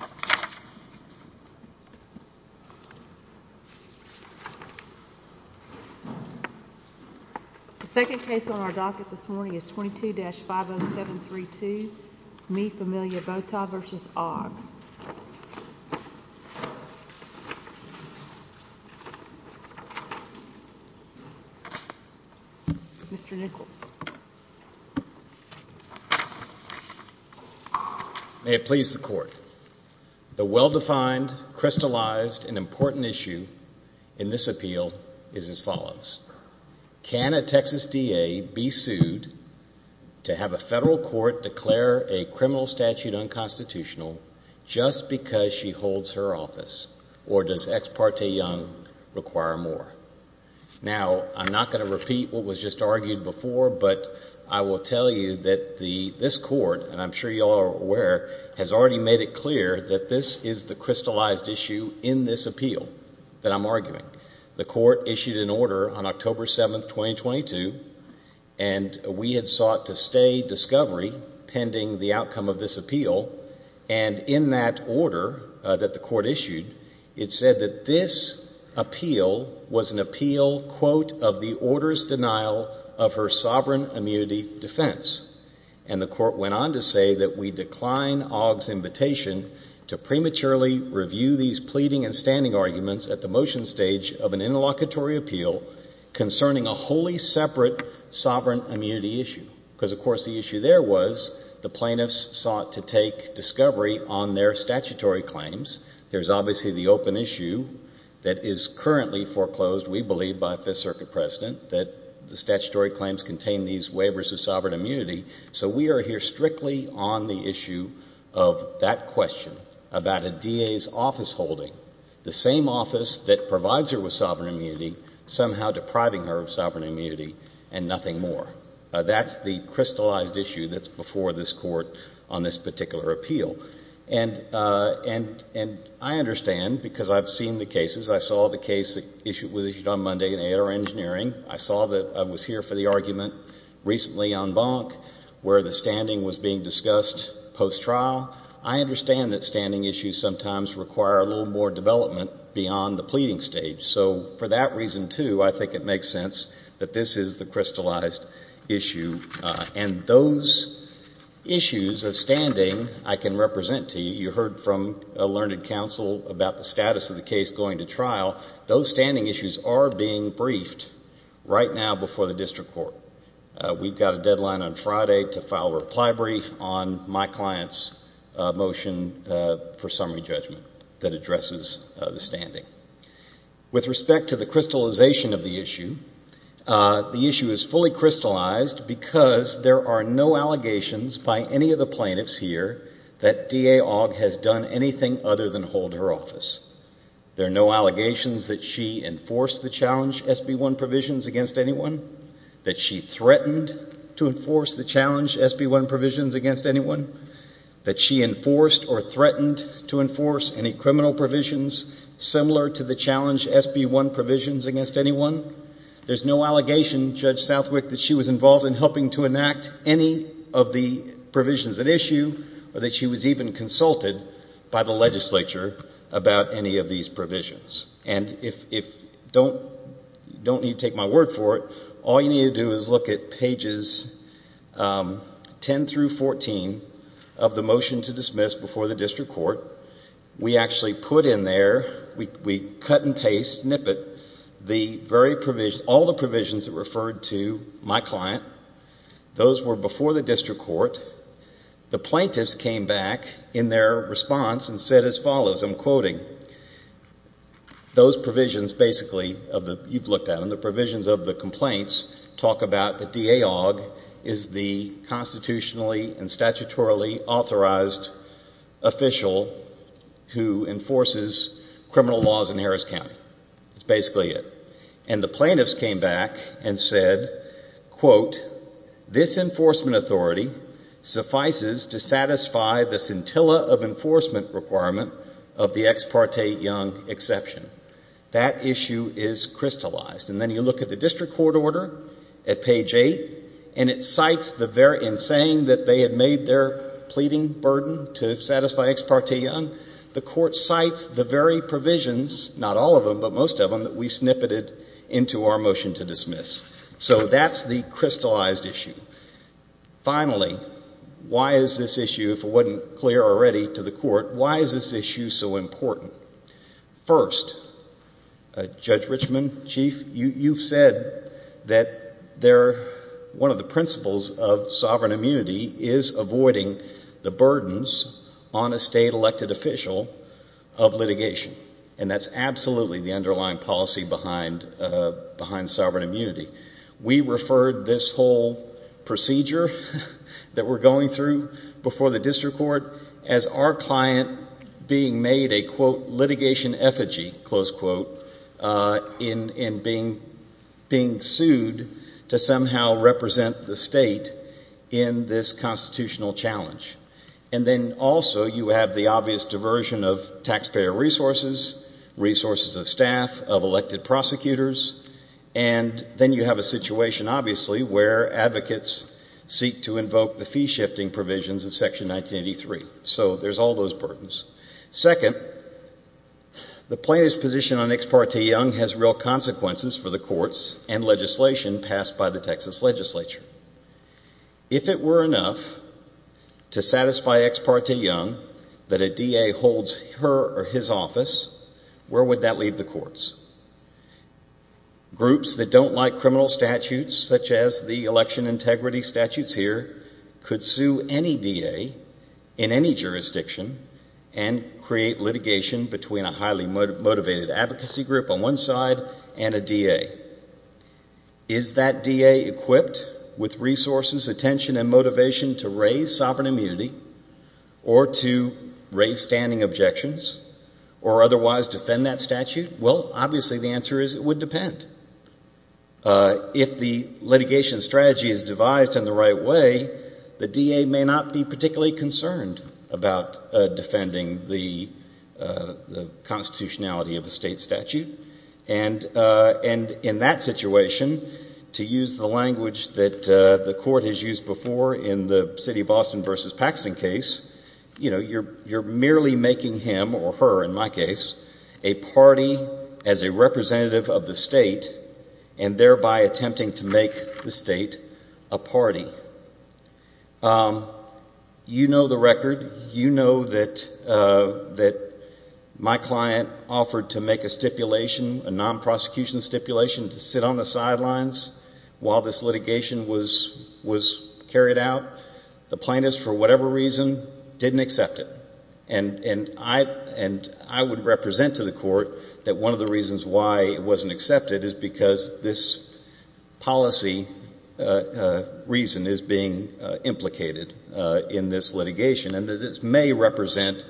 The second case on our docket this morning is 22-50732 Me Familia Vota v. Ogg. May it please the Court. The well-defined, crystallized, and important issue in this appeal is as follows. Can a Texas DA be sued to have a federal court declare a criminal statute unconstitutional just because she holds her office, or does Ex parte Young require more? Now, I'm not going to repeat what was just argued before, but I will tell you that this Court, and I'm sure you all are aware, has already made it clear that this is the crystallized issue in this appeal that I'm arguing. The Court issued an order on October And in that order that the Court issued, it said that this appeal was an appeal, quote, of the order's denial of her sovereign immunity defense. And the Court went on to say that we decline Ogg's invitation to prematurely review these pleading and standing arguments at the motion stage of an interlocutory appeal concerning a wholly separate sovereign immunity issue. Because, of course, the issue there was the plaintiffs sought to take discovery on their statutory claims. There's obviously the open issue that is currently foreclosed, we believe, by a Fifth Circuit president, that the statutory claims contain these waivers of sovereign immunity. So we are here strictly on the issue of that question about a DA's office holding, the same office that provides her with sovereign immunity, somehow depriving her of sovereign immunity and nothing more. That's the crystallized issue that's before this Court on this particular appeal. And I understand, because I've seen the cases, I saw the case that was issued on Monday in Aitor Engineering. I saw that I was here for the argument recently on Bonk, where the standing was being discussed post-trial. I understand that standing issues sometimes require a little more development beyond the is the crystallized issue. And those issues of standing I can represent to you. You heard from a learned counsel about the status of the case going to trial. Those standing issues are being briefed right now before the District Court. We've got a deadline on Friday to file a reply brief on my client's motion for summary judgment that addresses the standing. With respect to the crystallization of the issue, the issue is fully crystallized because there are no allegations by any of the plaintiffs here that DA Ogg has done anything other than hold her office. There are no allegations that she enforced the challenge SB1 provisions against anyone, that she threatened to enforce the challenge SB1 provisions against anyone, that she enforced or threatened to enforce any criminal provisions similar to the challenge SB1 provisions against anyone. There's no allegation, Judge Southwick, that she was involved in helping to enact any of the provisions at issue or that she was even consulted by the legislature about any of these provisions. And if you don't need to take my word for it, all you need to do is look at pages 10 through 14 of the motion to dismiss before the District Court. We actually put in there, we cut and paste, snippet, all the provisions that referred to my client. Those were before the District Court. The plaintiffs came back in their response and said as follows, I'm quoting, those provisions basically you've heard the complaints talk about that DA Ogg is the constitutionally and statutorily authorized official who enforces criminal laws in Harris County. That's basically it. And the plaintiffs came back and said, quote, this enforcement authority suffices to satisfy the scintilla of enforcement requirement of the ex parte Young exception. That issue is crystallized. And then you look at the District Court order at page 8 and it cites the very, in saying that they had made their pleading burden to satisfy ex parte Young, the court cites the very provisions, not all of them but most of them, that we snippeted into our motion to dismiss. So that's the crystallized issue. Finally, why is this issue, if it wasn't clear already to the court, why is this issue so important? First, Judge Richmond, Chief, you said that they're, one of the principles of sovereign immunity is avoiding the burdens on a state elected official of litigation. And that's absolutely the underlying policy behind sovereign immunity. We referred this whole procedure that we're going through before the District Court as our client being made a, quote, litigation effigy, close quote, in being sued to somehow represent the state in this constitutional challenge. And then also you have the obvious diversion of taxpayer resources, resources of staff, of elected prosecutors, and then you have a situation obviously where advocates seek to invoke the fee shifting provisions of section 1983. So there's all those burdens. Second, the plaintiff's position on Ex parte Young has real consequences for the courts and legislation passed by the Texas legislature. If it were enough to satisfy Ex parte Young that a DA holds her or his office, where would that leave the courts? Groups that don't like criminal statutes such as the election integrity statutes here could sue any DA in any jurisdiction and create litigation between a highly motivated advocacy group on one side and a DA. Is that DA equipped with resources, attention, and motivation to raise sovereign immunity or to raise standing objections or otherwise defend that statute? Well, obviously the answer is it would depend. If the litigation strategy is devised in the right way, the DA may not be particularly concerned about defending the constitutionality of a state statute. And in that situation to use the language that the court has used before in the city of Austin versus Paxton case, you're merely making him or her in my case a party as a representative of the state and thereby attempting to make the state a party. You know the record. You know that my client offered to make a stipulation, a non-prosecution stipulation to sit on the sidelines while this litigation was carried out. The plaintiff, for whatever reason, didn't accept it. And I would represent to the court that one of the reasons why it wasn't accepted is because this policy reason is being implicated in this litigation. And this may represent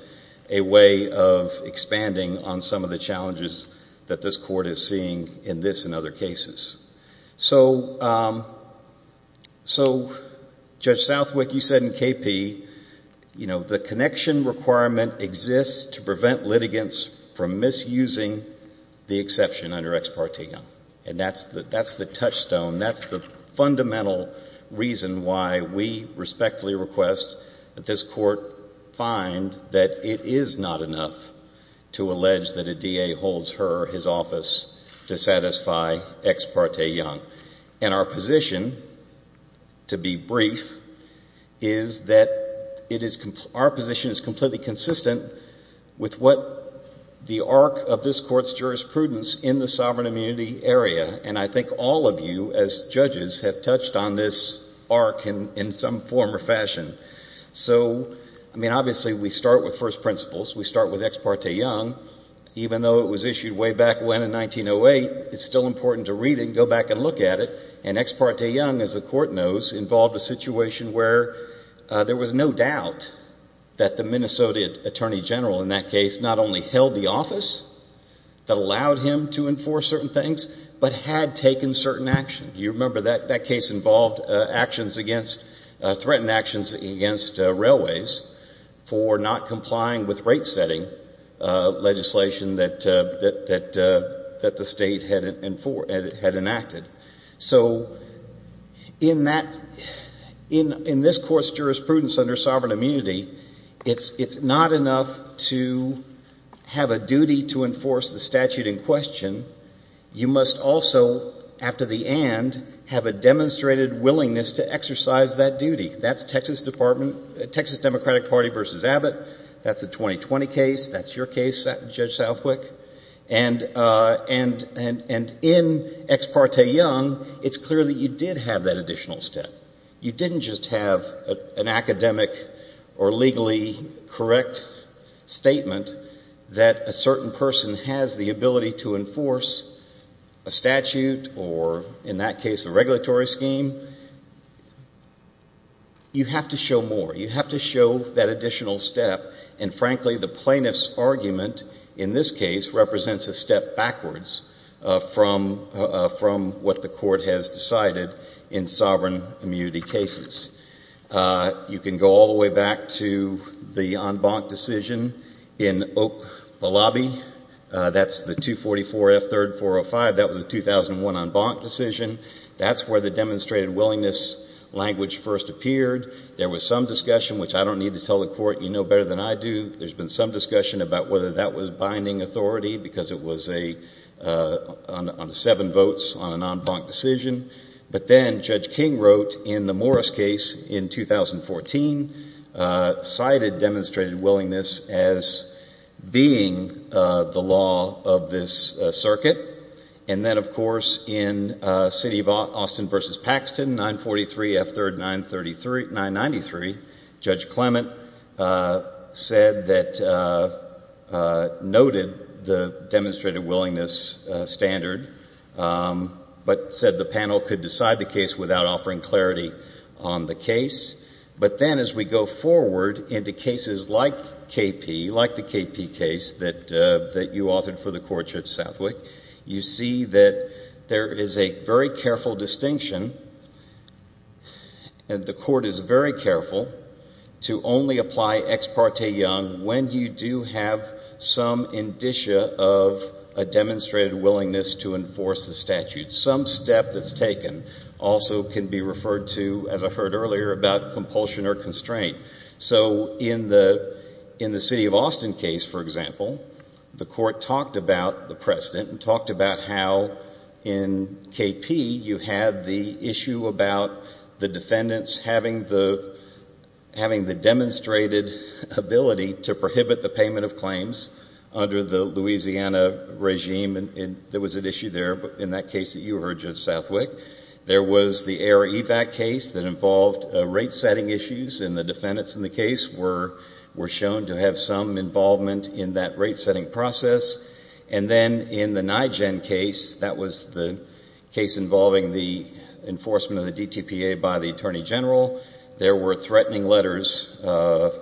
a way of expanding on some of the challenges that this court is seeing in this and other cases. So Judge Southwick, you said in KP, you know, the connection requirement exists to prevent litigants from misusing the exception under Ex Parte Young. And that's the touchstone. That's the fundamental reason why we respectfully request that this court find that it is not enough to allege that a DA holds her or his office to satisfy Ex Parte Young. And our position, to be brief, is that it is, our position is completely consistent with the arc of this court's jurisprudence in the sovereign immunity area. And I think all of you, as judges, have touched on this arc in some form or fashion. So, I mean, obviously we start with first principles. We start with Ex Parte Young. Even though it was issued way back when in 1908, it's still important to read it and go back and look at it. And Ex Parte Young, as the court knows, involved a situation where there was no doubt that the Minnesota Attorney General in that case not only held the office that allowed him to enforce certain things, but had taken certain actions. You remember that case involved actions against, threatened actions against railways for not complying with rate setting legislation that the state had enacted. So in that, in this court's jurisprudence under sovereign immunity, it's not enough to have a duty to enforce the statute in question. You must also, after the and, have a demonstrated willingness to exercise that duty. That's Texas Department, Texas Democratic Party v. Abbott. That's the 2020 case. That's your case, Judge Southwick. And in Ex Parte Young, it's clear that you did have that additional step. You didn't just have an academic or legally correct statement that a certain person has the ability to enforce a statute or, in that case, a regulatory scheme. You have to show more. You have to show that additional step. And frankly, the plaintiff's argument in this case represents a step backwards from what the court has decided in sovereign immunity cases. You can go all the way back to the en banc decision in Oak Balabi. That's the 244 F. 3rd 405. That was the 2001 en banc decision. That's where the demonstrated willingness language first appeared. There was some discussion, which I don't need to tell the court. You know better than I do. There's been some discussion about whether that was binding authority because it was a, on seven votes on an en banc decision. But then Judge King wrote in the Morris case in 2014, cited demonstrated willingness as being the law of this circuit. And then, of course, in City of Austin v. Paxton, 943 F. 3rd 993, Judge Clement said that, noted the demonstrated willingness standard, but said the panel could decide the case without offering clarity on the case. But then as we go forward into cases like K.P., like the K.P. case that you authored for the court, Judge Southwick, you see that there is a very careful distinction, and the court is very careful, to only apply ex parte young when you do have some indicia of a demonstrated willingness to enforce the statute. Some step that's taken also can be referred to, as I heard earlier, about compulsion or constraint. So in the City of Austin case, for example, the court talked about the precedent and talked about how in K.P. you had the issue about the defendants having the demonstrated ability to prohibit the payment of claims under the Louisiana regime. There was an issue there in that case that you heard, Judge Southwick. There was the Air Evac case that involved rate-setting issues, and the defendants in the case were shown to have some involvement in that rate-setting process. And then in the NIGEN case, that was the case involving the enforcement of the DTPA by the Attorney General, there were threatening letters of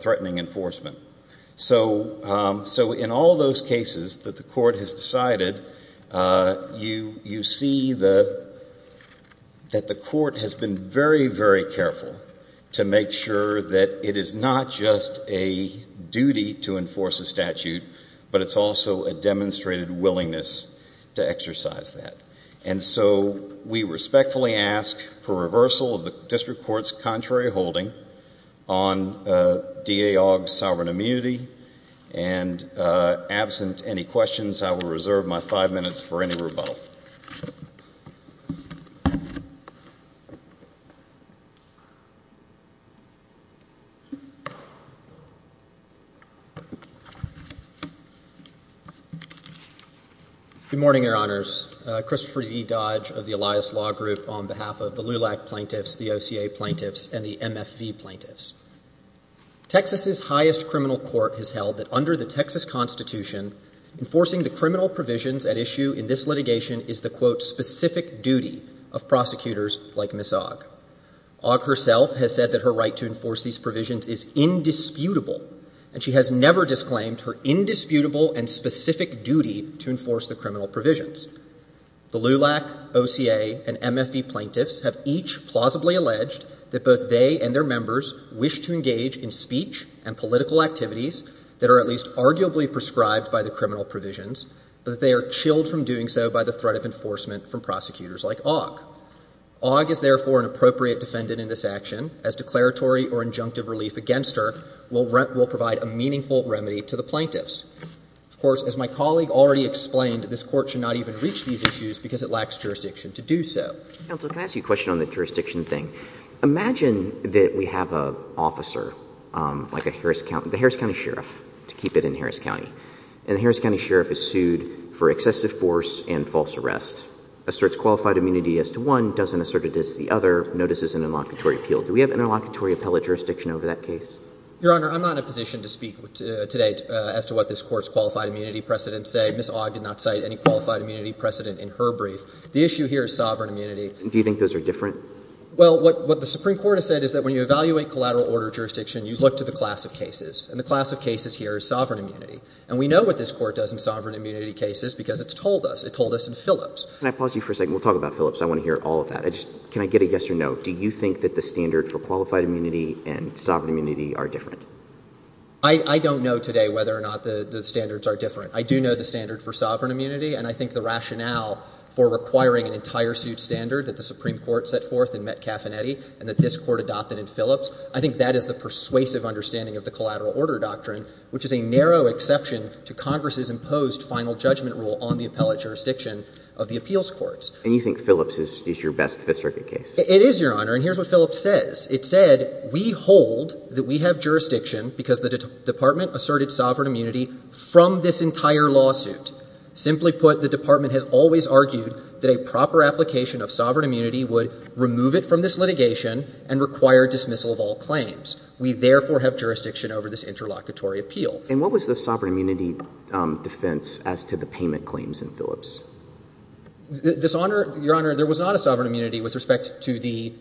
threatening enforcement. So in all those cases that the court has decided, you see that the court has been very, very careful to make sure that it is not just a duty to enforce a statute, but it's also a demonstrated willingness to exercise that. And so we respectfully ask for reversal of the District Court's contrary holding on DAOG sovereign immunity. And absent any questions, I will reserve my five minutes for any rebuttal. Good morning, Your Honors. Christopher E. Dodge of the Elias Law Group on behalf of the LULAC plaintiffs, the OCA plaintiffs, and the MFV plaintiffs. Texas's highest criminal court has held that under the Texas Constitution, enforcing the criminal provisions at issue in this litigation is the, quote, specific duty of prosecutors like Ms. Ogg. Ogg herself has said that her right to enforce these provisions is indisputable, and she has never disclaimed her indisputable and specific duty to enforce the criminal provisions. The LULAC plaintiffs have each plausibly alleged that both they and their members wish to engage in speech and political activities that are at least arguably prescribed by the criminal provisions, but that they are chilled from doing so by the threat of enforcement from prosecutors like Ogg. Ogg is, therefore, an appropriate defendant in this action, as declaratory or injunctive relief against her will provide a meaningful remedy to the plaintiffs. Of course, as my colleague already explained, this Court should not even reach these issues because it lacks jurisdiction to do so. MR. RIEFFELER. Counsel, can I ask you a question on the jurisdiction thing? Imagine that we have an officer, like a Harris County – the Harris County Sheriff, to keep it in Harris County. And the Harris County Sheriff is sued for excessive force and false arrest, asserts qualified immunity as to one, doesn't assert it as to the other, notices an inlocutory appeal. Do we have an inlocutory appellate jurisdiction over that case? MR. CLEMENT. Your Honor, I'm not in a position to speak today as to what this Court's qualified immunity precedents say. Ms. Ogg did not cite any qualified immunity precedent in her brief. The issue here is sovereign immunity. MR. RIEFFELER. Do you think those are different? MR. CLEMENT. Well, what the Supreme Court has said is that when you evaluate collateral order jurisdiction, you look to the class of cases. And the class of cases here is sovereign immunity. And we know what this Court does in sovereign immunity cases because it's told us. It told us in Phillips. MR. RIEFFELER. Can I pause you for a second? We'll talk about Phillips. I want to hear all of that. Can I get a yes or no? Do you think that the standard for qualified immunity and sovereign immunity are different? MR. CLEMENT. I don't know today whether or not the standards are different. I do know the standard for sovereign immunity. And I think the rationale for requiring an entire suit standard that the Supreme Court set forth in Metcalf and Eddy and that this Court adopted in Phillips, I think that is the persuasive understanding of the collateral order doctrine, which is a narrow exception to Congress's imposed final judgment rule on the appellate jurisdiction of the appeals courts. MR. RIEFFELER. And you think Phillips is your best Fifth Circuit case? MR. CLEMENT. It is, Your Honor. And here's what Phillips says. It said, we hold that we have jurisdiction because the Department asserted sovereign immunity from this entire lawsuit. Simply put, the Department has always argued that a proper application of sovereign immunity would remove it from this litigation and require dismissal of all claims. We, therefore, have jurisdiction over this interlocutory appeal. MR. RIEFFELER. And what was the sovereign immunity defense as to the payment claims in Phillips? MR. CLEMENT. This Honor – Your Honor, there was not a sovereign immunity with respect to the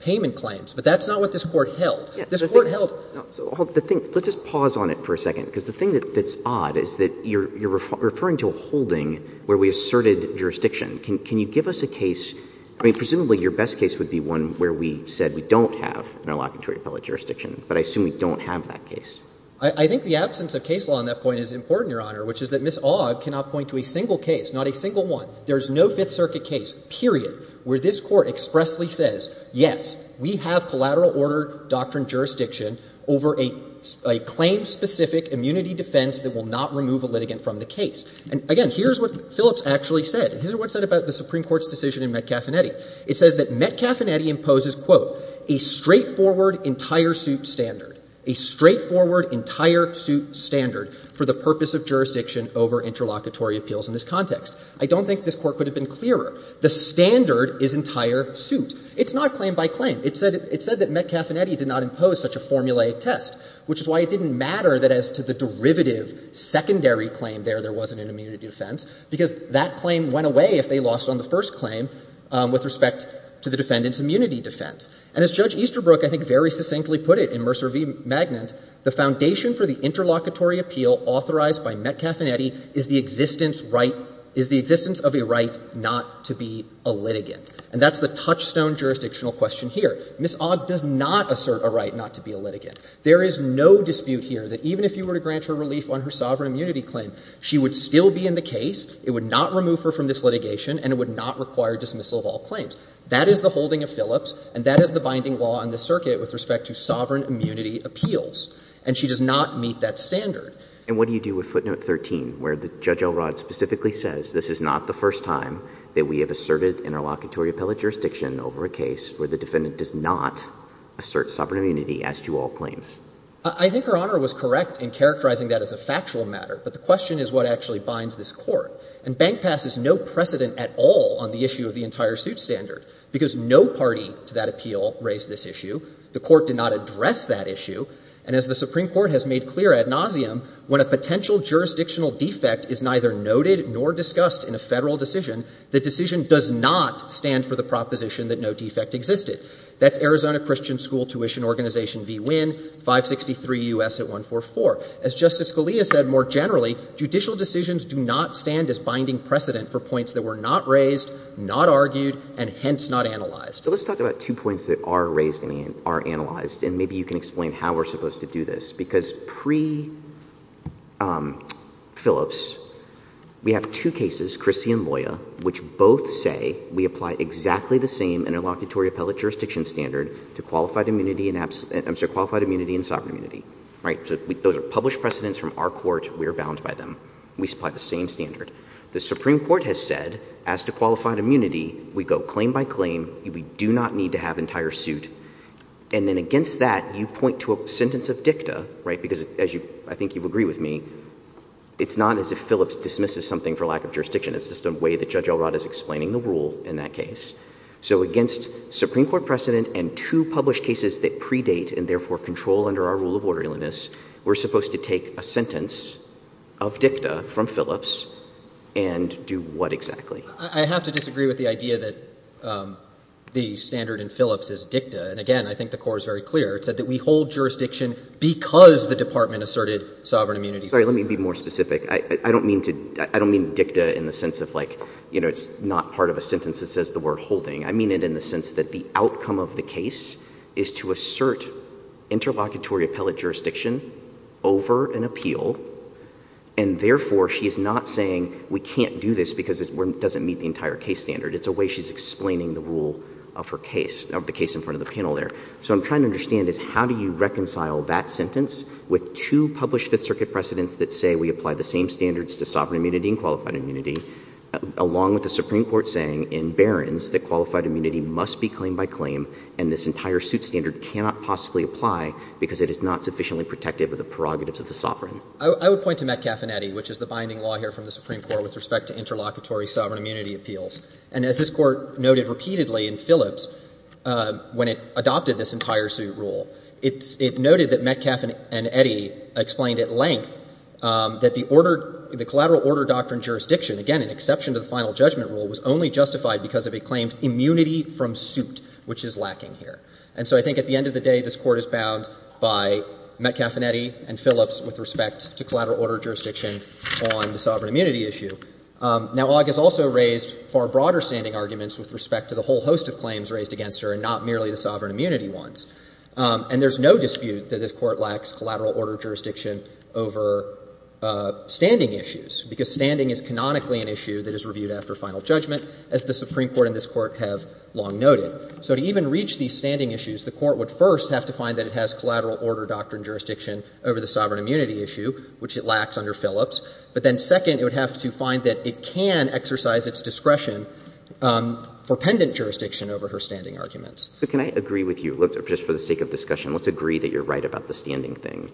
payment claims. But that's not what this Court held. MR. RIEFFELER. Yeah. So the thing – let's just pause on it for a second, because the thing that's odd is that you're referring to a holding where we asserted jurisdiction. Can you give us a case – I mean, presumably your best case would be one where we said we don't have an interlocutory appellate jurisdiction, but I assume we don't have that case. MR. CLEMENT. I think the absence of case law on that point is important, Your Honor, which is that Ms. Ogg cannot point to a single case, not a single one. There is no Fifth Circuit case, period, where this Court expressly says, yes, we have collateral order doctrine jurisdiction over a claim-specific immunity defense that will not remove a litigant from the case. And again, here's what Phillips actually said. Here's what it said about the Supreme Court's decision in Metcalf and Eddy. It says that Metcalf and Eddy imposes, quote, a straightforward entire suit standard, a straightforward entire suit standard for the purpose of jurisdiction over interlocutory appeals in this context. I don't think this Court could have been clearer. The standard is entire suit. It's not claim by claim. It said that Metcalf and Eddy did not impose such a formulaic test, which is why it didn't matter that as to the derivative secondary claim there, there wasn't an immunity defense, because that claim went away if they lost on the first claim with respect to the defendant's immunity defense. And as Judge Easterbrook, I think, very succinctly put it in Mercer v. Magnant, the foundation for the interlocutory appeal authorized by Metcalf and Eddy is the existence right, is the existence of a right not to be a litigant. And that's the touchstone jurisdictional question here. Ms. Ogg does not assert a right not to be a litigant. There is no dispute here that even if you were to grant her relief on her sovereign immunity claim, she would still be in the case, it would not remove her from this litigation, and it would not require dismissal of all claims. That is the holding of Phillips, and that is the binding law on this circuit with respect to sovereign immunity appeals. And she does not meet that standard. And what do you do with footnote 13, where Judge Elrod specifically says this is not the first time that we have asserted interlocutory appellate jurisdiction over a case where the defendant does not assert sovereign immunity as to all claims? I think Her Honor was correct in characterizing that as a factual matter, but the question is what actually binds this Court. And Bank Pass is no precedent at all on the issue of the entire suit standard, because no party to that appeal raised this issue. The Court did not address that issue. And as the Supreme Court has made clear ad nauseam, when a potential jurisdictional defect is neither noted nor discussed in a Federal decision, the decision does not stand for the proposition that no defect existed. That's Arizona Christian School Tuition Organization v. Winn, 563 U.S. at 144. As Justice Scalia said more generally, judicial decisions do not stand as binding precedent for points that were not raised, not argued, and hence not analyzed. So let's talk about two points that are raised and are analyzed, and maybe you can explain how we're supposed to do this. Because pre-Phillips, we have two cases, Chrissy and Loya, which both say we apply exactly the same interlocutory appellate jurisdiction standard to qualified immunity and sovereign immunity, right? So those are published precedents from our Court. We are bound by them. We apply the same standard. The Supreme Court has said as to qualified immunity, we go claim by claim. We do not need to have entire suit. And then against that, you point to a sentence of dicta, right? Because as you, I think you agree with me, it's not as if Phillips dismisses something for lack of jurisdiction. It's just a way that Judge Elrod is explaining the rule in that case. So against Supreme Court precedent and two published cases that predate and therefore control under our rule of orderliness, we're supposed to take a sentence of dicta from Phillips and do what exactly? I have to disagree with the idea that the standard in Phillips is dicta. And again, I think the Court is very clear. It said that we hold jurisdiction because the Department asserted sovereign immunity. Sorry, let me be more specific. I don't mean to, I don't mean dicta in the sense of like, you know, it's not part of a sentence that says the word holding. I mean it in the sense that the outcome of the case is to assert interlocutory appellate jurisdiction over an appeal. And therefore, she is not saying we can't do this because it doesn't meet the entire case standard. It's a way she's explaining the rule of her case, of the case in front of the panel there. So what I'm trying to understand is how do you reconcile that sentence with two published Fifth Circuit precedents that say we apply the same standards to sovereign immunity and qualified immunity, along with the Supreme Court saying in Barron's that qualified immunity must be claim by claim and this entire suit standard cannot possibly apply because it is not sufficiently protective of the prerogatives of the sovereign. I would point to Metcalfe and Eddy, which is the binding law here from the Supreme Court with respect to interlocutory sovereign immunity appeals. And as this Court noted repeatedly in Phillips, when it adopted this entire suit rule, it noted that Metcalfe and Eddy explained at length that the order, the collateral order doctrine jurisdiction, again, an exception to the final judgment rule, was only justified because of a claim immunity from suit, which is lacking here. And so I think at the end of the day, this Court is bound by Metcalfe and Eddy and Phillips with respect to collateral order jurisdiction on the sovereign immunity issue. Now, Aug has also raised far broader standing arguments with respect to the whole host of claims raised against her and not merely the sovereign immunity ones. And there's no dispute that this Court lacks collateral order jurisdiction over standing issues, because standing is canonically an issue that is reviewed after final judgment, as the Supreme Court and this Court have long noted. So to even reach these standing issues, the Court would first have to find that it has collateral order doctrine jurisdiction over the sovereign immunity issue, which it lacks under Phillips. But then second, it would have to find that it can exercise its discretion for pendent jurisdiction over her standing arguments. So can I agree with you? Look, just for the sake of discussion, let's agree that you're right about the standing thing.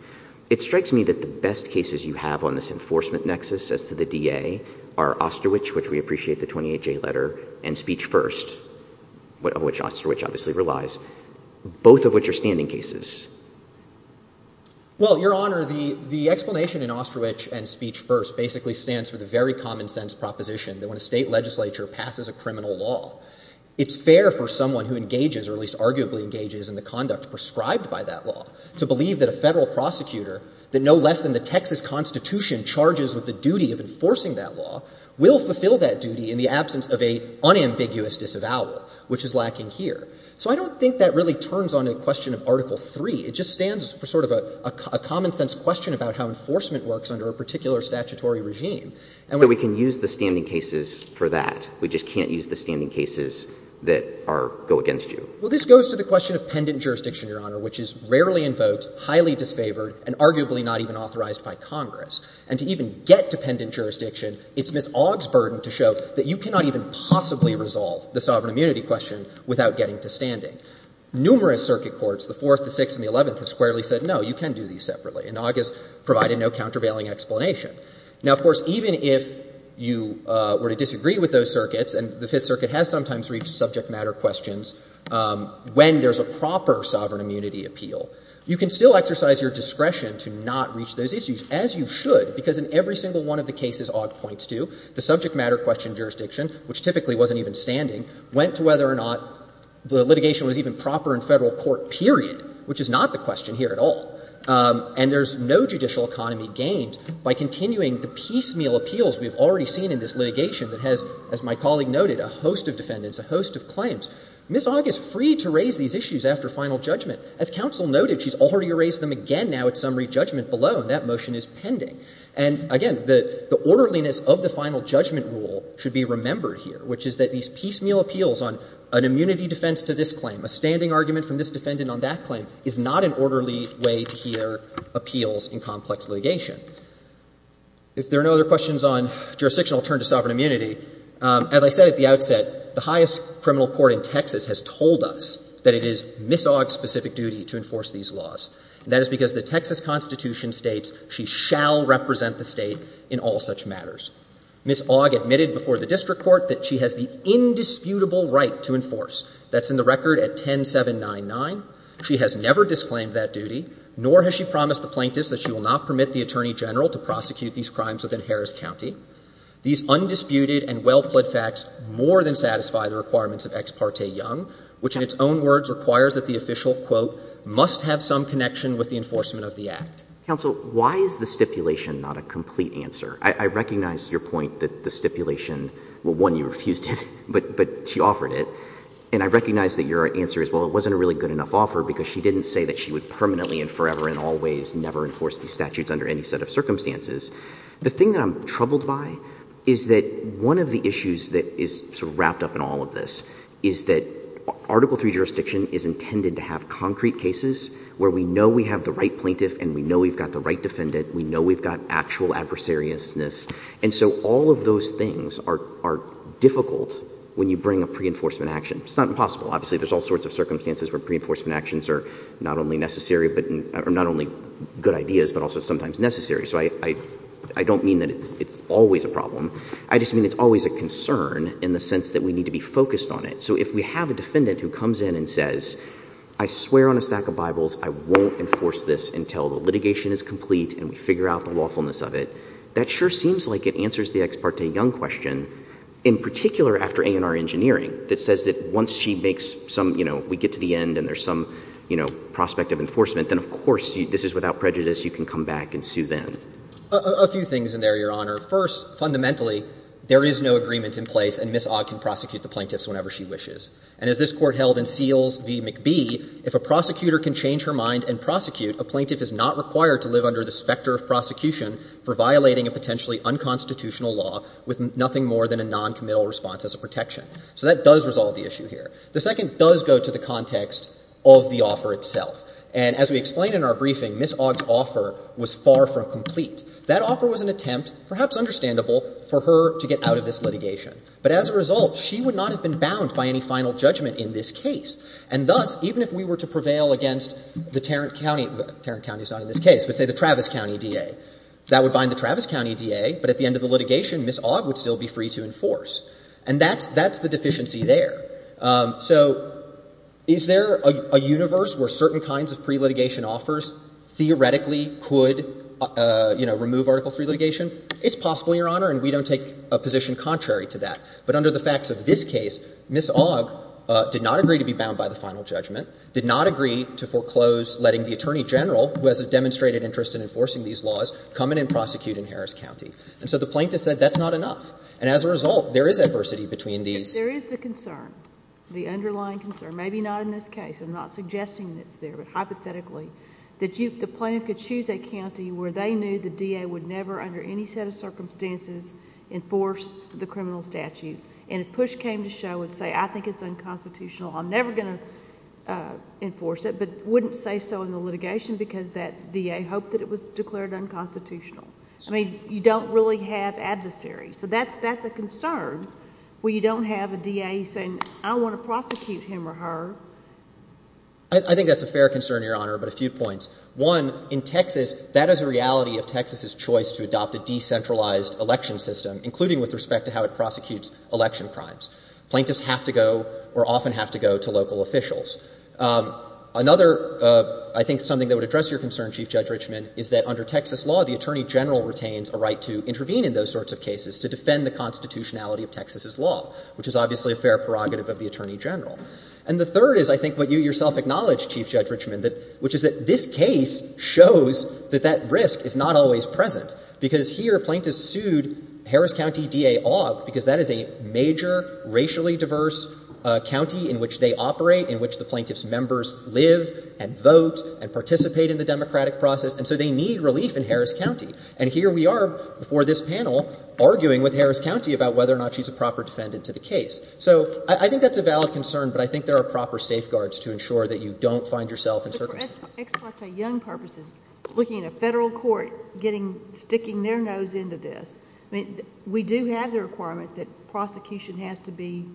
It strikes me that the best cases you have on this enforcement nexus as to the DA are Osterwich, which we appreciate, the 28J letter, and Speech First, which Osterwich obviously relies, both of which are standing cases. Well, Your Honor, the explanation in Osterwich and Speech First basically stands for the very common sense proposition that when a state legislature passes a criminal law, it's fair for someone who engages, or at least arguably engages in the conduct prescribed by that law, to believe that a federal prosecutor, that no less than the Texas Constitution charges with the duty of enforcing that law, will fulfill that duty in the absence of an unambiguous disavowal, which is lacking here. So I don't think that really turns on a question of Article III. It just stands for sort of a common-sense question about how enforcement works under a particular statutory regime. So we can use the standing cases for that. We just can't use the standing cases that are go against you. Well, this goes to the question of pendent jurisdiction, Your Honor, which is rarely invoked, highly disfavored, and arguably not even authorized by Congress. And to even get to pendent jurisdiction, it's Ms. Ogg's burden to show that you cannot even possibly resolve the sovereign immunity question without getting to standing. Numerous circuit courts, the Fourth, the Sixth, and the Eleventh, have squarely said, no, you can do these separately. And Ogg has provided no countervailing explanation. Now, of course, even if you were to disagree with those circuits, and the Fifth Circuit has sometimes reached subject matter questions when there's a proper sovereign immunity appeal, you can still exercise your discretion to not reach those issues, as you should, because in every single one of the cases Ogg points to, the subject matter question jurisdiction, which typically wasn't even standing, went to whether or not the litigation was even proper in Federal court, period, which is not the question here at all. And there's no judicial economy gained by continuing the piecemeal appeals we have already seen in this litigation that has, as my colleague noted, a host of defendants, a host of claims. Ms. Ogg is free to raise these issues after final judgment. As counsel noted, she's already raised them again now at summary judgment below, and that motion is pending. And, again, the orderliness of the final judgment rule should be remembered here, which is that these piecemeal appeals on an immunity defense to this claim, a standing argument from this defendant on that claim, is not an orderly way to hear appeals in complex litigation. If there are no other questions on jurisdiction, I'll turn to sovereign immunity. As I said at the outset, the highest criminal court in Texas has told us that it is Ms. Ogg's specific duty to enforce these laws, and that is because the Texas Constitution states she shall represent the State in all such matters. Ms. Ogg admitted before the District Court that she has the indisputable right to enforce. That's in the record at 10799. She has never disclaimed that duty, nor has she promised the plaintiffs that she will not permit the Attorney General to prosecute these crimes within Harris County. These undisputed and well-pled facts more than satisfy the requirements of Ex parte Young, which in its own words requires that the official, quote, must have some connection with the enforcement of the Act. MR. RIEFFELER. Counsel, why is the stipulation not a complete answer? I recognize your point that the stipulation — well, one, you refused it, but she offered it. And I recognize that your answer is, well, it wasn't a really good enough offer, because she didn't say that she would permanently and forever and always never enforce these statutes under any set of circumstances. The thing that I'm troubled by is that one of the issues that is sort of wrapped up in all of this is that Article III jurisdiction is intended to have concrete cases where we know we have the right plaintiff and we know we've got the right defendant, we know we've got actual adversariousness. And so all of those things are difficult when you bring a pre-enforcement action. It's not impossible. Obviously, there's all sorts of circumstances where pre-enforcement actions are not only necessary, or not only good ideas, but also sometimes necessary. So I don't mean that it's always a problem. I just mean it's always a concern in the sense that we need to be focused on it. So if we have a defendant who comes in and says, I swear on a stack of Bibles I won't enforce this until the litigation is complete and we figure out the lawfulness of it, that sure seems like it answers the Ex parte Young question, in particular after A&R Engineering, that says that once she makes some — you know, we get to the end and there's some, you know, prospect of enforcement, then of course this is without prejudice. You can come back and sue them. A few things in there, Your Honor. First, fundamentally, there is no agreement in place and Ms. Ogg can prosecute the plaintiffs whenever she wishes. And as this Court held in Seals v. McBee, if a prosecutor can change her mind and prosecute, a plaintiff is not required to live under the specter of prosecution for violating a potentially unconstitutional law with nothing more than a noncommittal response as a protection. So that does resolve the issue here. The second does go to the context of the offer itself. And as we explained in our briefing, Ms. Ogg's offer was far from complete. That offer was an attempt, perhaps understandable, for her to get out of this litigation. But as a result, she would not have been bound by any final judgment in this case. And thus, even if we were to prevail against the Tarrant County — Tarrant County is not in this case, but, say, the Travis County DA, that would bind the Travis County DA, but at the end of the litigation, Ms. Ogg would still be free to enforce. And that's — that's the deficiency there. So is there a universe where certain kinds of pre-litigation offers theoretically could, you know, remove Article III litigation? It's possible, Your Honor, and we don't take a position contrary to that. But under the facts of this case, Ms. Ogg did not agree to be bound by the final judgment, did not agree to foreclose letting the Attorney General, who has a demonstrated interest in enforcing these laws, come in and prosecute in Harris County. And so the plaintiff said that's not enough. And as a result, there is adversity between these — But there is the concern, the underlying concern — maybe not in this case. I'm not suggesting it's there. But hypothetically, that you — the plaintiff could choose a county where they knew the DA would never, under any set of circumstances, enforce the criminal statute. And if push came to show and say, I think it's unconstitutional, I'm never going to enforce it, but wouldn't say so in the litigation because that DA hoped that it was declared unconstitutional. I mean, you don't really have adversaries. So that's — that's a concern where you don't have a DA saying, I want to prosecute him or her. I think that's a fair concern, Your Honor, but a few points. One, in Texas, that is a reality of Texas's choice to adopt a decentralized election system, including with respect to how it prosecutes election crimes. Plaintiffs have to go or often have to go to local officials. Another, I think, something that would address your concern, Chief Judge Richman, is that under Texas law, the Attorney General retains a right to intervene in those sorts of cases to defend the constitutionality of Texas's law, which is obviously a fair prerogative of the Attorney General. And the third is, I think, what you yourself acknowledged, Chief Judge Richman, that — which is that this case shows that that risk is not always present, because here plaintiffs sued Harris County D.A. Aug because that is a major racially diverse county in which they operate, in which the plaintiffs' members live and vote and participate in the democratic process, and so they need relief in Harris County. And here we are before this panel arguing with Harris County about whether or not she's a proper defendant to the case. So I think that's a valid concern, but I think there are proper safeguards to ensure that you don't find yourself in circumstance. But for ex parte young purposes, looking at a Federal court getting — sticking their nose into this, I mean, we do have the requirement that prosecution has to be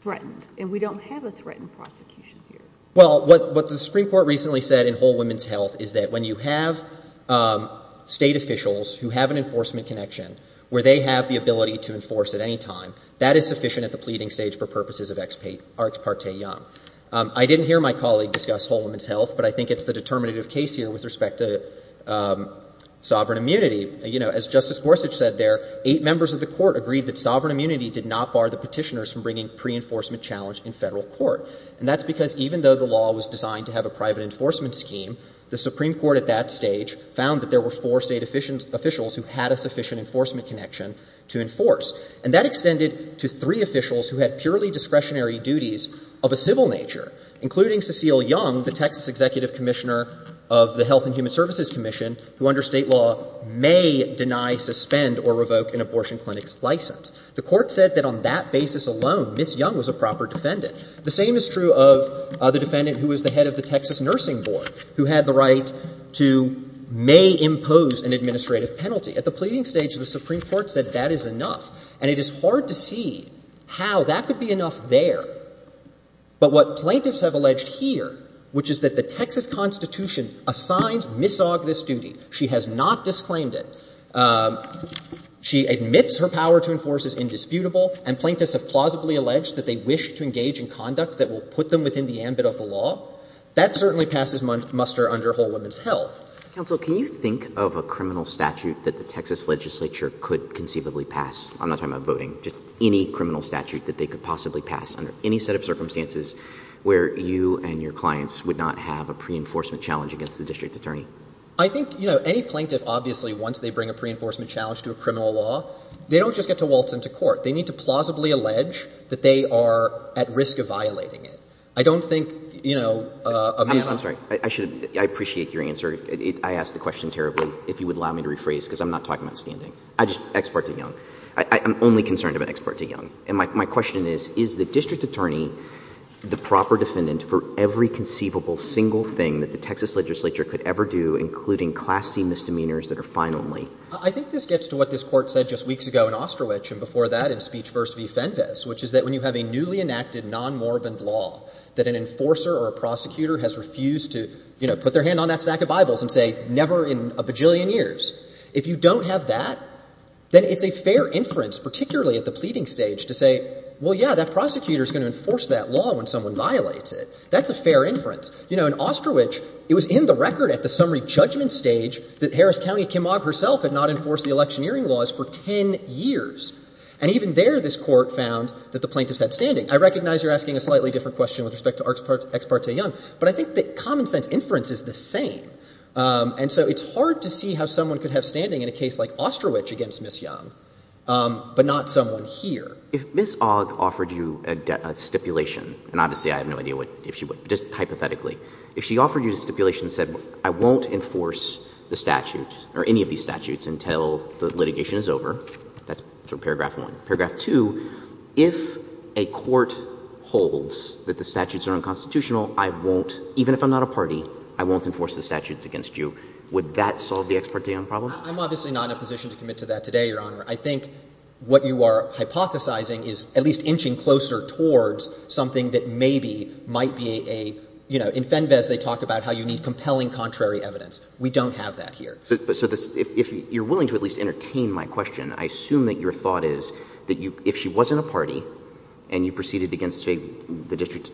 threatened, and we don't have a threatened prosecution here. Well, what the Supreme Court recently said in Whole Women's Health is that when you have State officials who have an enforcement connection, where they have the ability to enforce at any time, that is sufficient at the pleading stage for purposes of ex parte young. I didn't hear my colleague discuss Whole Women's Health, but I think it's the determinative case here with respect to sovereign immunity. You know, as Justice Gorsuch said there, eight members of the Court agreed that sovereign immunity did not bar the Petitioners from bringing pre-enforcement challenge in Federal court. And that's because even though the law was designed to have a private enforcement scheme, the Supreme Court at that stage found that there were four State officials who had a sufficient enforcement connection to enforce. And that extended to three officials who had purely discretionary duties of a civil nature, including Cecile Young, the Texas Executive Commissioner of the Health and Human Services Commission, who under State law may deny, suspend, or revoke an abortion clinic's license. The Court said that on that basis alone, Ms. Young was a proper defendant. The same is true of the defendant who was the head of the Texas Nursing Board, who had the right to may impose an administrative penalty. At the pleading stage, the Supreme Court said that is enough. And it is hard to see how that could be enough there. But what plaintiffs have alleged here, which is that the Texas Constitution assigns Ms. Ogg this duty, she has not disclaimed it, she admits her power to enforce is indisputable, and plaintiffs have plausibly alleged that they wish to engage in conduct that will put them within the ambit of the law. That certainly passes muster under Whole Woman's Health. Counsel, can you think of a criminal statute that the Texas legislature could conceivably pass? I'm not talking about voting, just any criminal statute that they could possibly pass under any set of circumstances where you and your clients would not have a preenforcement challenge against the district attorney? I think, you know, any plaintiff, obviously, once they bring a preenforcement challenge to a criminal law, they don't just get to waltz into court. They need to plausibly violate it. I don't think, you know, a man... I'm sorry. I should, I appreciate your answer. I asked the question terribly. If you would allow me to rephrase, because I'm not talking about standing. I just, ex parte young. I'm only concerned about ex parte young. And my question is, is the district attorney the proper defendant for every conceivable single thing that the Texas legislature could ever do, including class C misdemeanors that are fine only? I think this gets to what this Court said just weeks ago in Osterwich, and before that in Speech First v. Fenves, which is that when you have a newly enacted non-morbid law that an enforcer or a prosecutor has refused to, you know, put their hand on that stack of Bibles and say, never in a bajillion years. If you don't have that, then it's a fair inference, particularly at the pleading stage, to say, well, yeah, that prosecutor's going to enforce that law when someone violates it. That's a fair inference. You know, in Osterwich, it was in the record at the summary judgment stage that Harris and there this Court found that the plaintiffs had standing. I recognize you're asking a slightly different question with respect to ex parte young, but I think that common sense inference is the same. And so it's hard to see how someone could have standing in a case like Osterwich against Ms. Young, but not someone here. If Ms. Ogg offered you a stipulation, and obviously I have no idea if she would, just hypothetically, if she offered you a stipulation that said, I won't enforce the statute or any of these statutes until the litigation is over, that's sort of paragraph one. Paragraph two, if a court holds that the statutes are unconstitutional, I won't, even if I'm not a party, I won't enforce the statutes against you. Would that solve the ex parte young problem? I'm obviously not in a position to commit to that today, Your Honor. I think what you are hypothesizing is at least inching closer towards something that maybe might be a, you know, in Fenves they talk about how you need compelling contrary evidence. We don't have that here. So if you're willing to at least entertain my question, I assume that your thought is that if she wasn't a party and you proceeded against, say, the District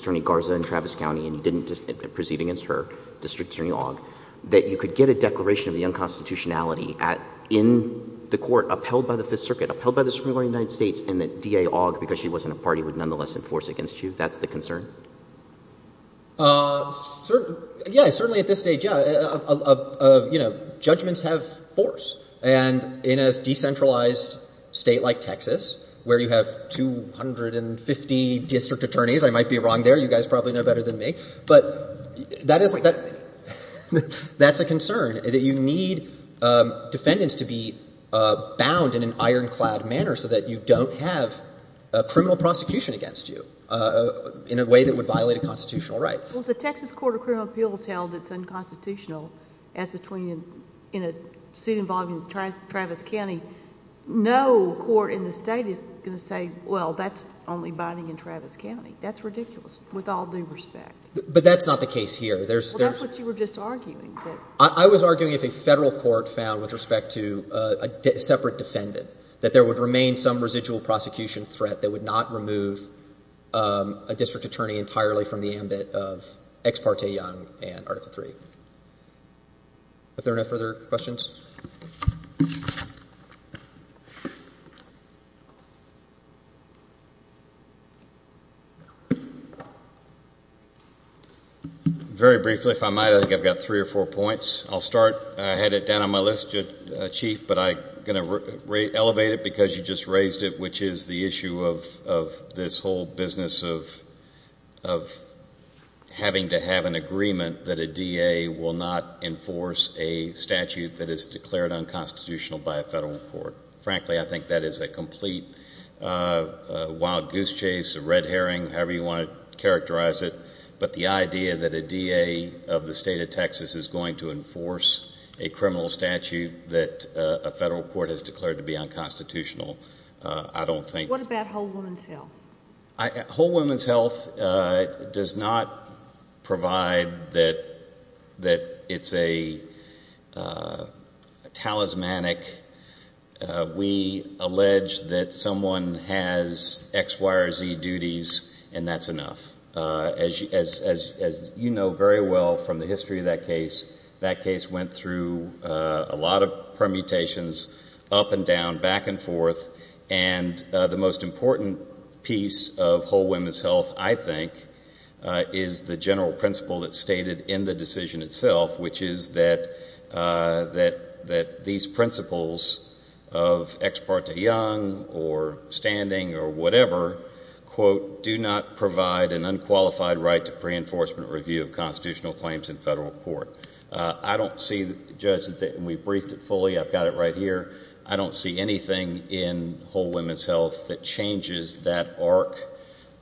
Attorney Garza in Travis County and you didn't proceed against her, District Attorney Ogg, that you could get a declaration of the unconstitutionality in the court upheld by the Fifth Circuit, upheld by the Supreme Court of the United States, and that DA Ogg, because she wasn't a party, would nonetheless enforce against you? That's the concern? Yeah, certainly at this stage, yeah. You know, judgments have force. And in a decentralized state like Texas, where you have 250 district attorneys, I might be wrong there, you guys probably know better than me, but that is, that's a concern, that you need defendants to be bound in an ironclad manner so that you don't have a criminal prosecution against you in a way that would violate a constitutional right. Well, if the Texas Court of Criminal Appeals held it's unconstitutional, as between in a suit involving Travis County, no court in the State is going to say, well, that's only binding in Travis County. That's ridiculous, with all due respect. But that's not the case here. There's there's... Well, that's what you were just arguing. I was arguing if a Federal court found, with respect to a separate defendant, that there would remain some residual prosecution threat that would not remove a district attorney entirely from the ambit of Ex parte Young and Article III. Are there any further questions? Very briefly, if I might, I think I've got three or four points. I'll start, I had it on my list, Chief, but I'm going to elevate it because you just raised it, which is the issue of this whole business of having to have an agreement that a DA will not enforce a statute that is declared unconstitutional by a Federal court. Frankly, I think that is a complete wild goose chase, a red herring, however you want to characterize it. But the statute that a Federal court has declared to be unconstitutional, I don't think... What about Whole Woman's Health? Whole Woman's Health does not provide that it's a talismanic. We allege that someone has X, Y, or Z duties, and that's enough. As you know very well from the history of that case, that case went through a lot of permutations up and down, back and forth, and the most important piece of Whole Woman's Health, I think, is the general principle that's stated in the decision itself, which is that these principles of Ex parte Young or standing or whatever, quote, do not provide an unqualified right to pre-enforcement review of constitutional claims in Federal court. I don't see, Judge, and we've briefed it fully, I've got it right here, I don't see anything in Whole Woman's Health that changes that arc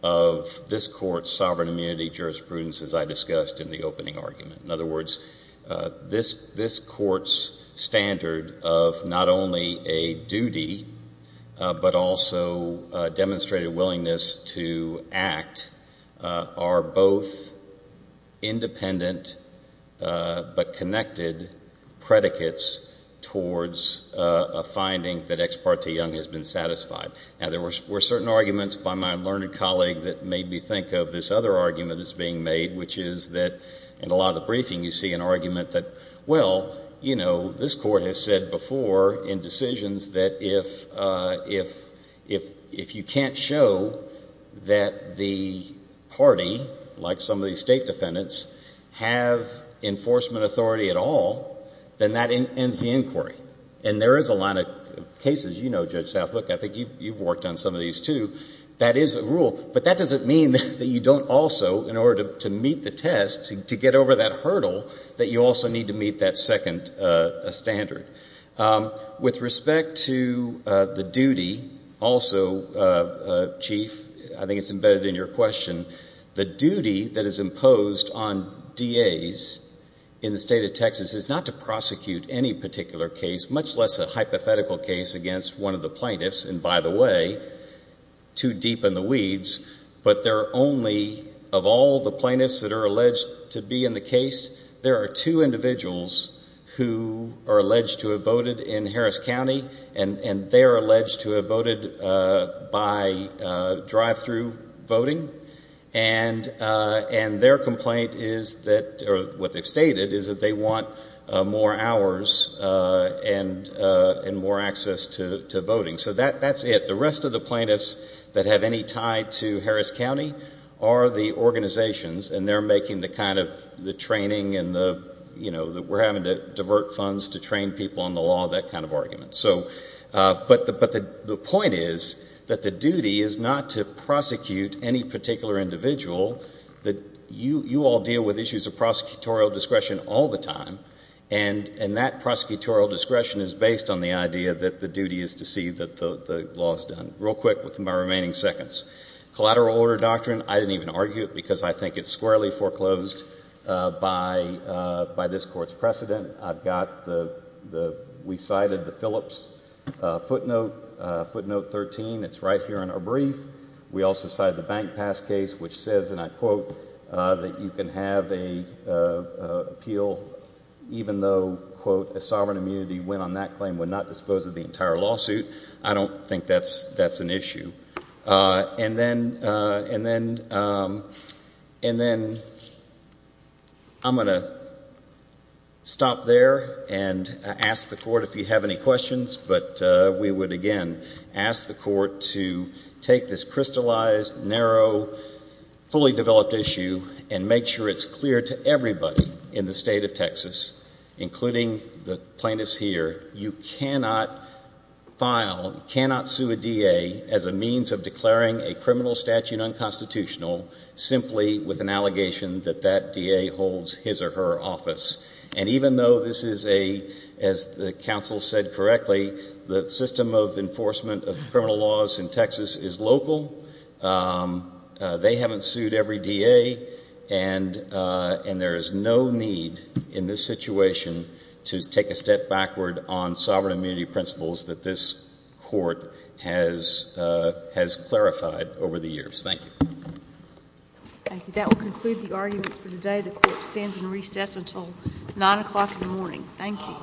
of this Court's sovereign immunity jurisprudence, as I discussed in the opening argument. In other words, this Court's standard of not only a duty, but also demonstrated willingness to act, are both independent but connected predicates towards a finding that Ex parte Young has been satisfied. Now there were certain arguments by my learned colleague that made me think of this other argument that's being made, which is that in a lot of the briefing you see an argument that, well, you know, this Court has said before in decisions that if you can't show that the party, like some of these state defendants, have enforcement authority at all, then that ends the inquiry. And there is a line of cases, you know, Judge Southbrook, I think you've worked on some of these too, that is a rule. But that doesn't mean that you don't also, in order to meet the test, to get over that hurdle, that you the duty also, Chief, I think it's embedded in your question, the duty that is imposed on DAs in the State of Texas is not to prosecute any particular case, much less a hypothetical case against one of the plaintiffs, and by the way, too deep in the weeds, but there are only, of all the plaintiffs that are alleged to be in the case, there are two individuals who are alleged to have voted in Harris County, and they are alleged to have voted by drive-through voting, and their complaint is that, or what they've stated, is that they want more hours and more access to voting. So that's it. The rest of the plaintiffs that have any tie to Harris County are the organizations, and they're making the kind of the training and the, you know, trying to divert funds to train people on the law, that kind of argument. So, but the point is that the duty is not to prosecute any particular individual, that you all deal with issues of prosecutorial discretion all the time, and that prosecutorial discretion is based on the idea that the duty is to see that the law is done. Real quick with my remaining seconds. Collateral order doctrine, I didn't even argue it because I think it's squarely foreclosed by this Court's precedent. I've got the, we cited the Phillips footnote, footnote 13, it's right here in our brief. We also cited the Bank Pass case, which says, and I quote, that you can have a appeal even though, quote, a sovereign immunity win on that claim would not dispose of the entire lawsuit. I don't think that's an issue. And then, and then, and then I'm going to stop there and ask the Court if you have any questions, but we would, again, ask the Court to take this crystallized, narrow, fully developed issue and make sure it's clear to everybody in the State of Texas, including the plaintiffs here, you cannot file, cannot sue a DA as a means of declaring a criminal statute unconstitutional simply with an allegation that that DA holds his or her office. And even though this is a, as the counsel said correctly, the system of enforcement of criminal laws in Texas is local, they haven't sued every DA, and there is no need in this situation to take a step backward on sovereign immunity principles that this Court has, has clarified over the years. Thank you. Thank you. That will conclude the arguments for today. The Court stands in recess until 9 o'clock in the morning. Thank you.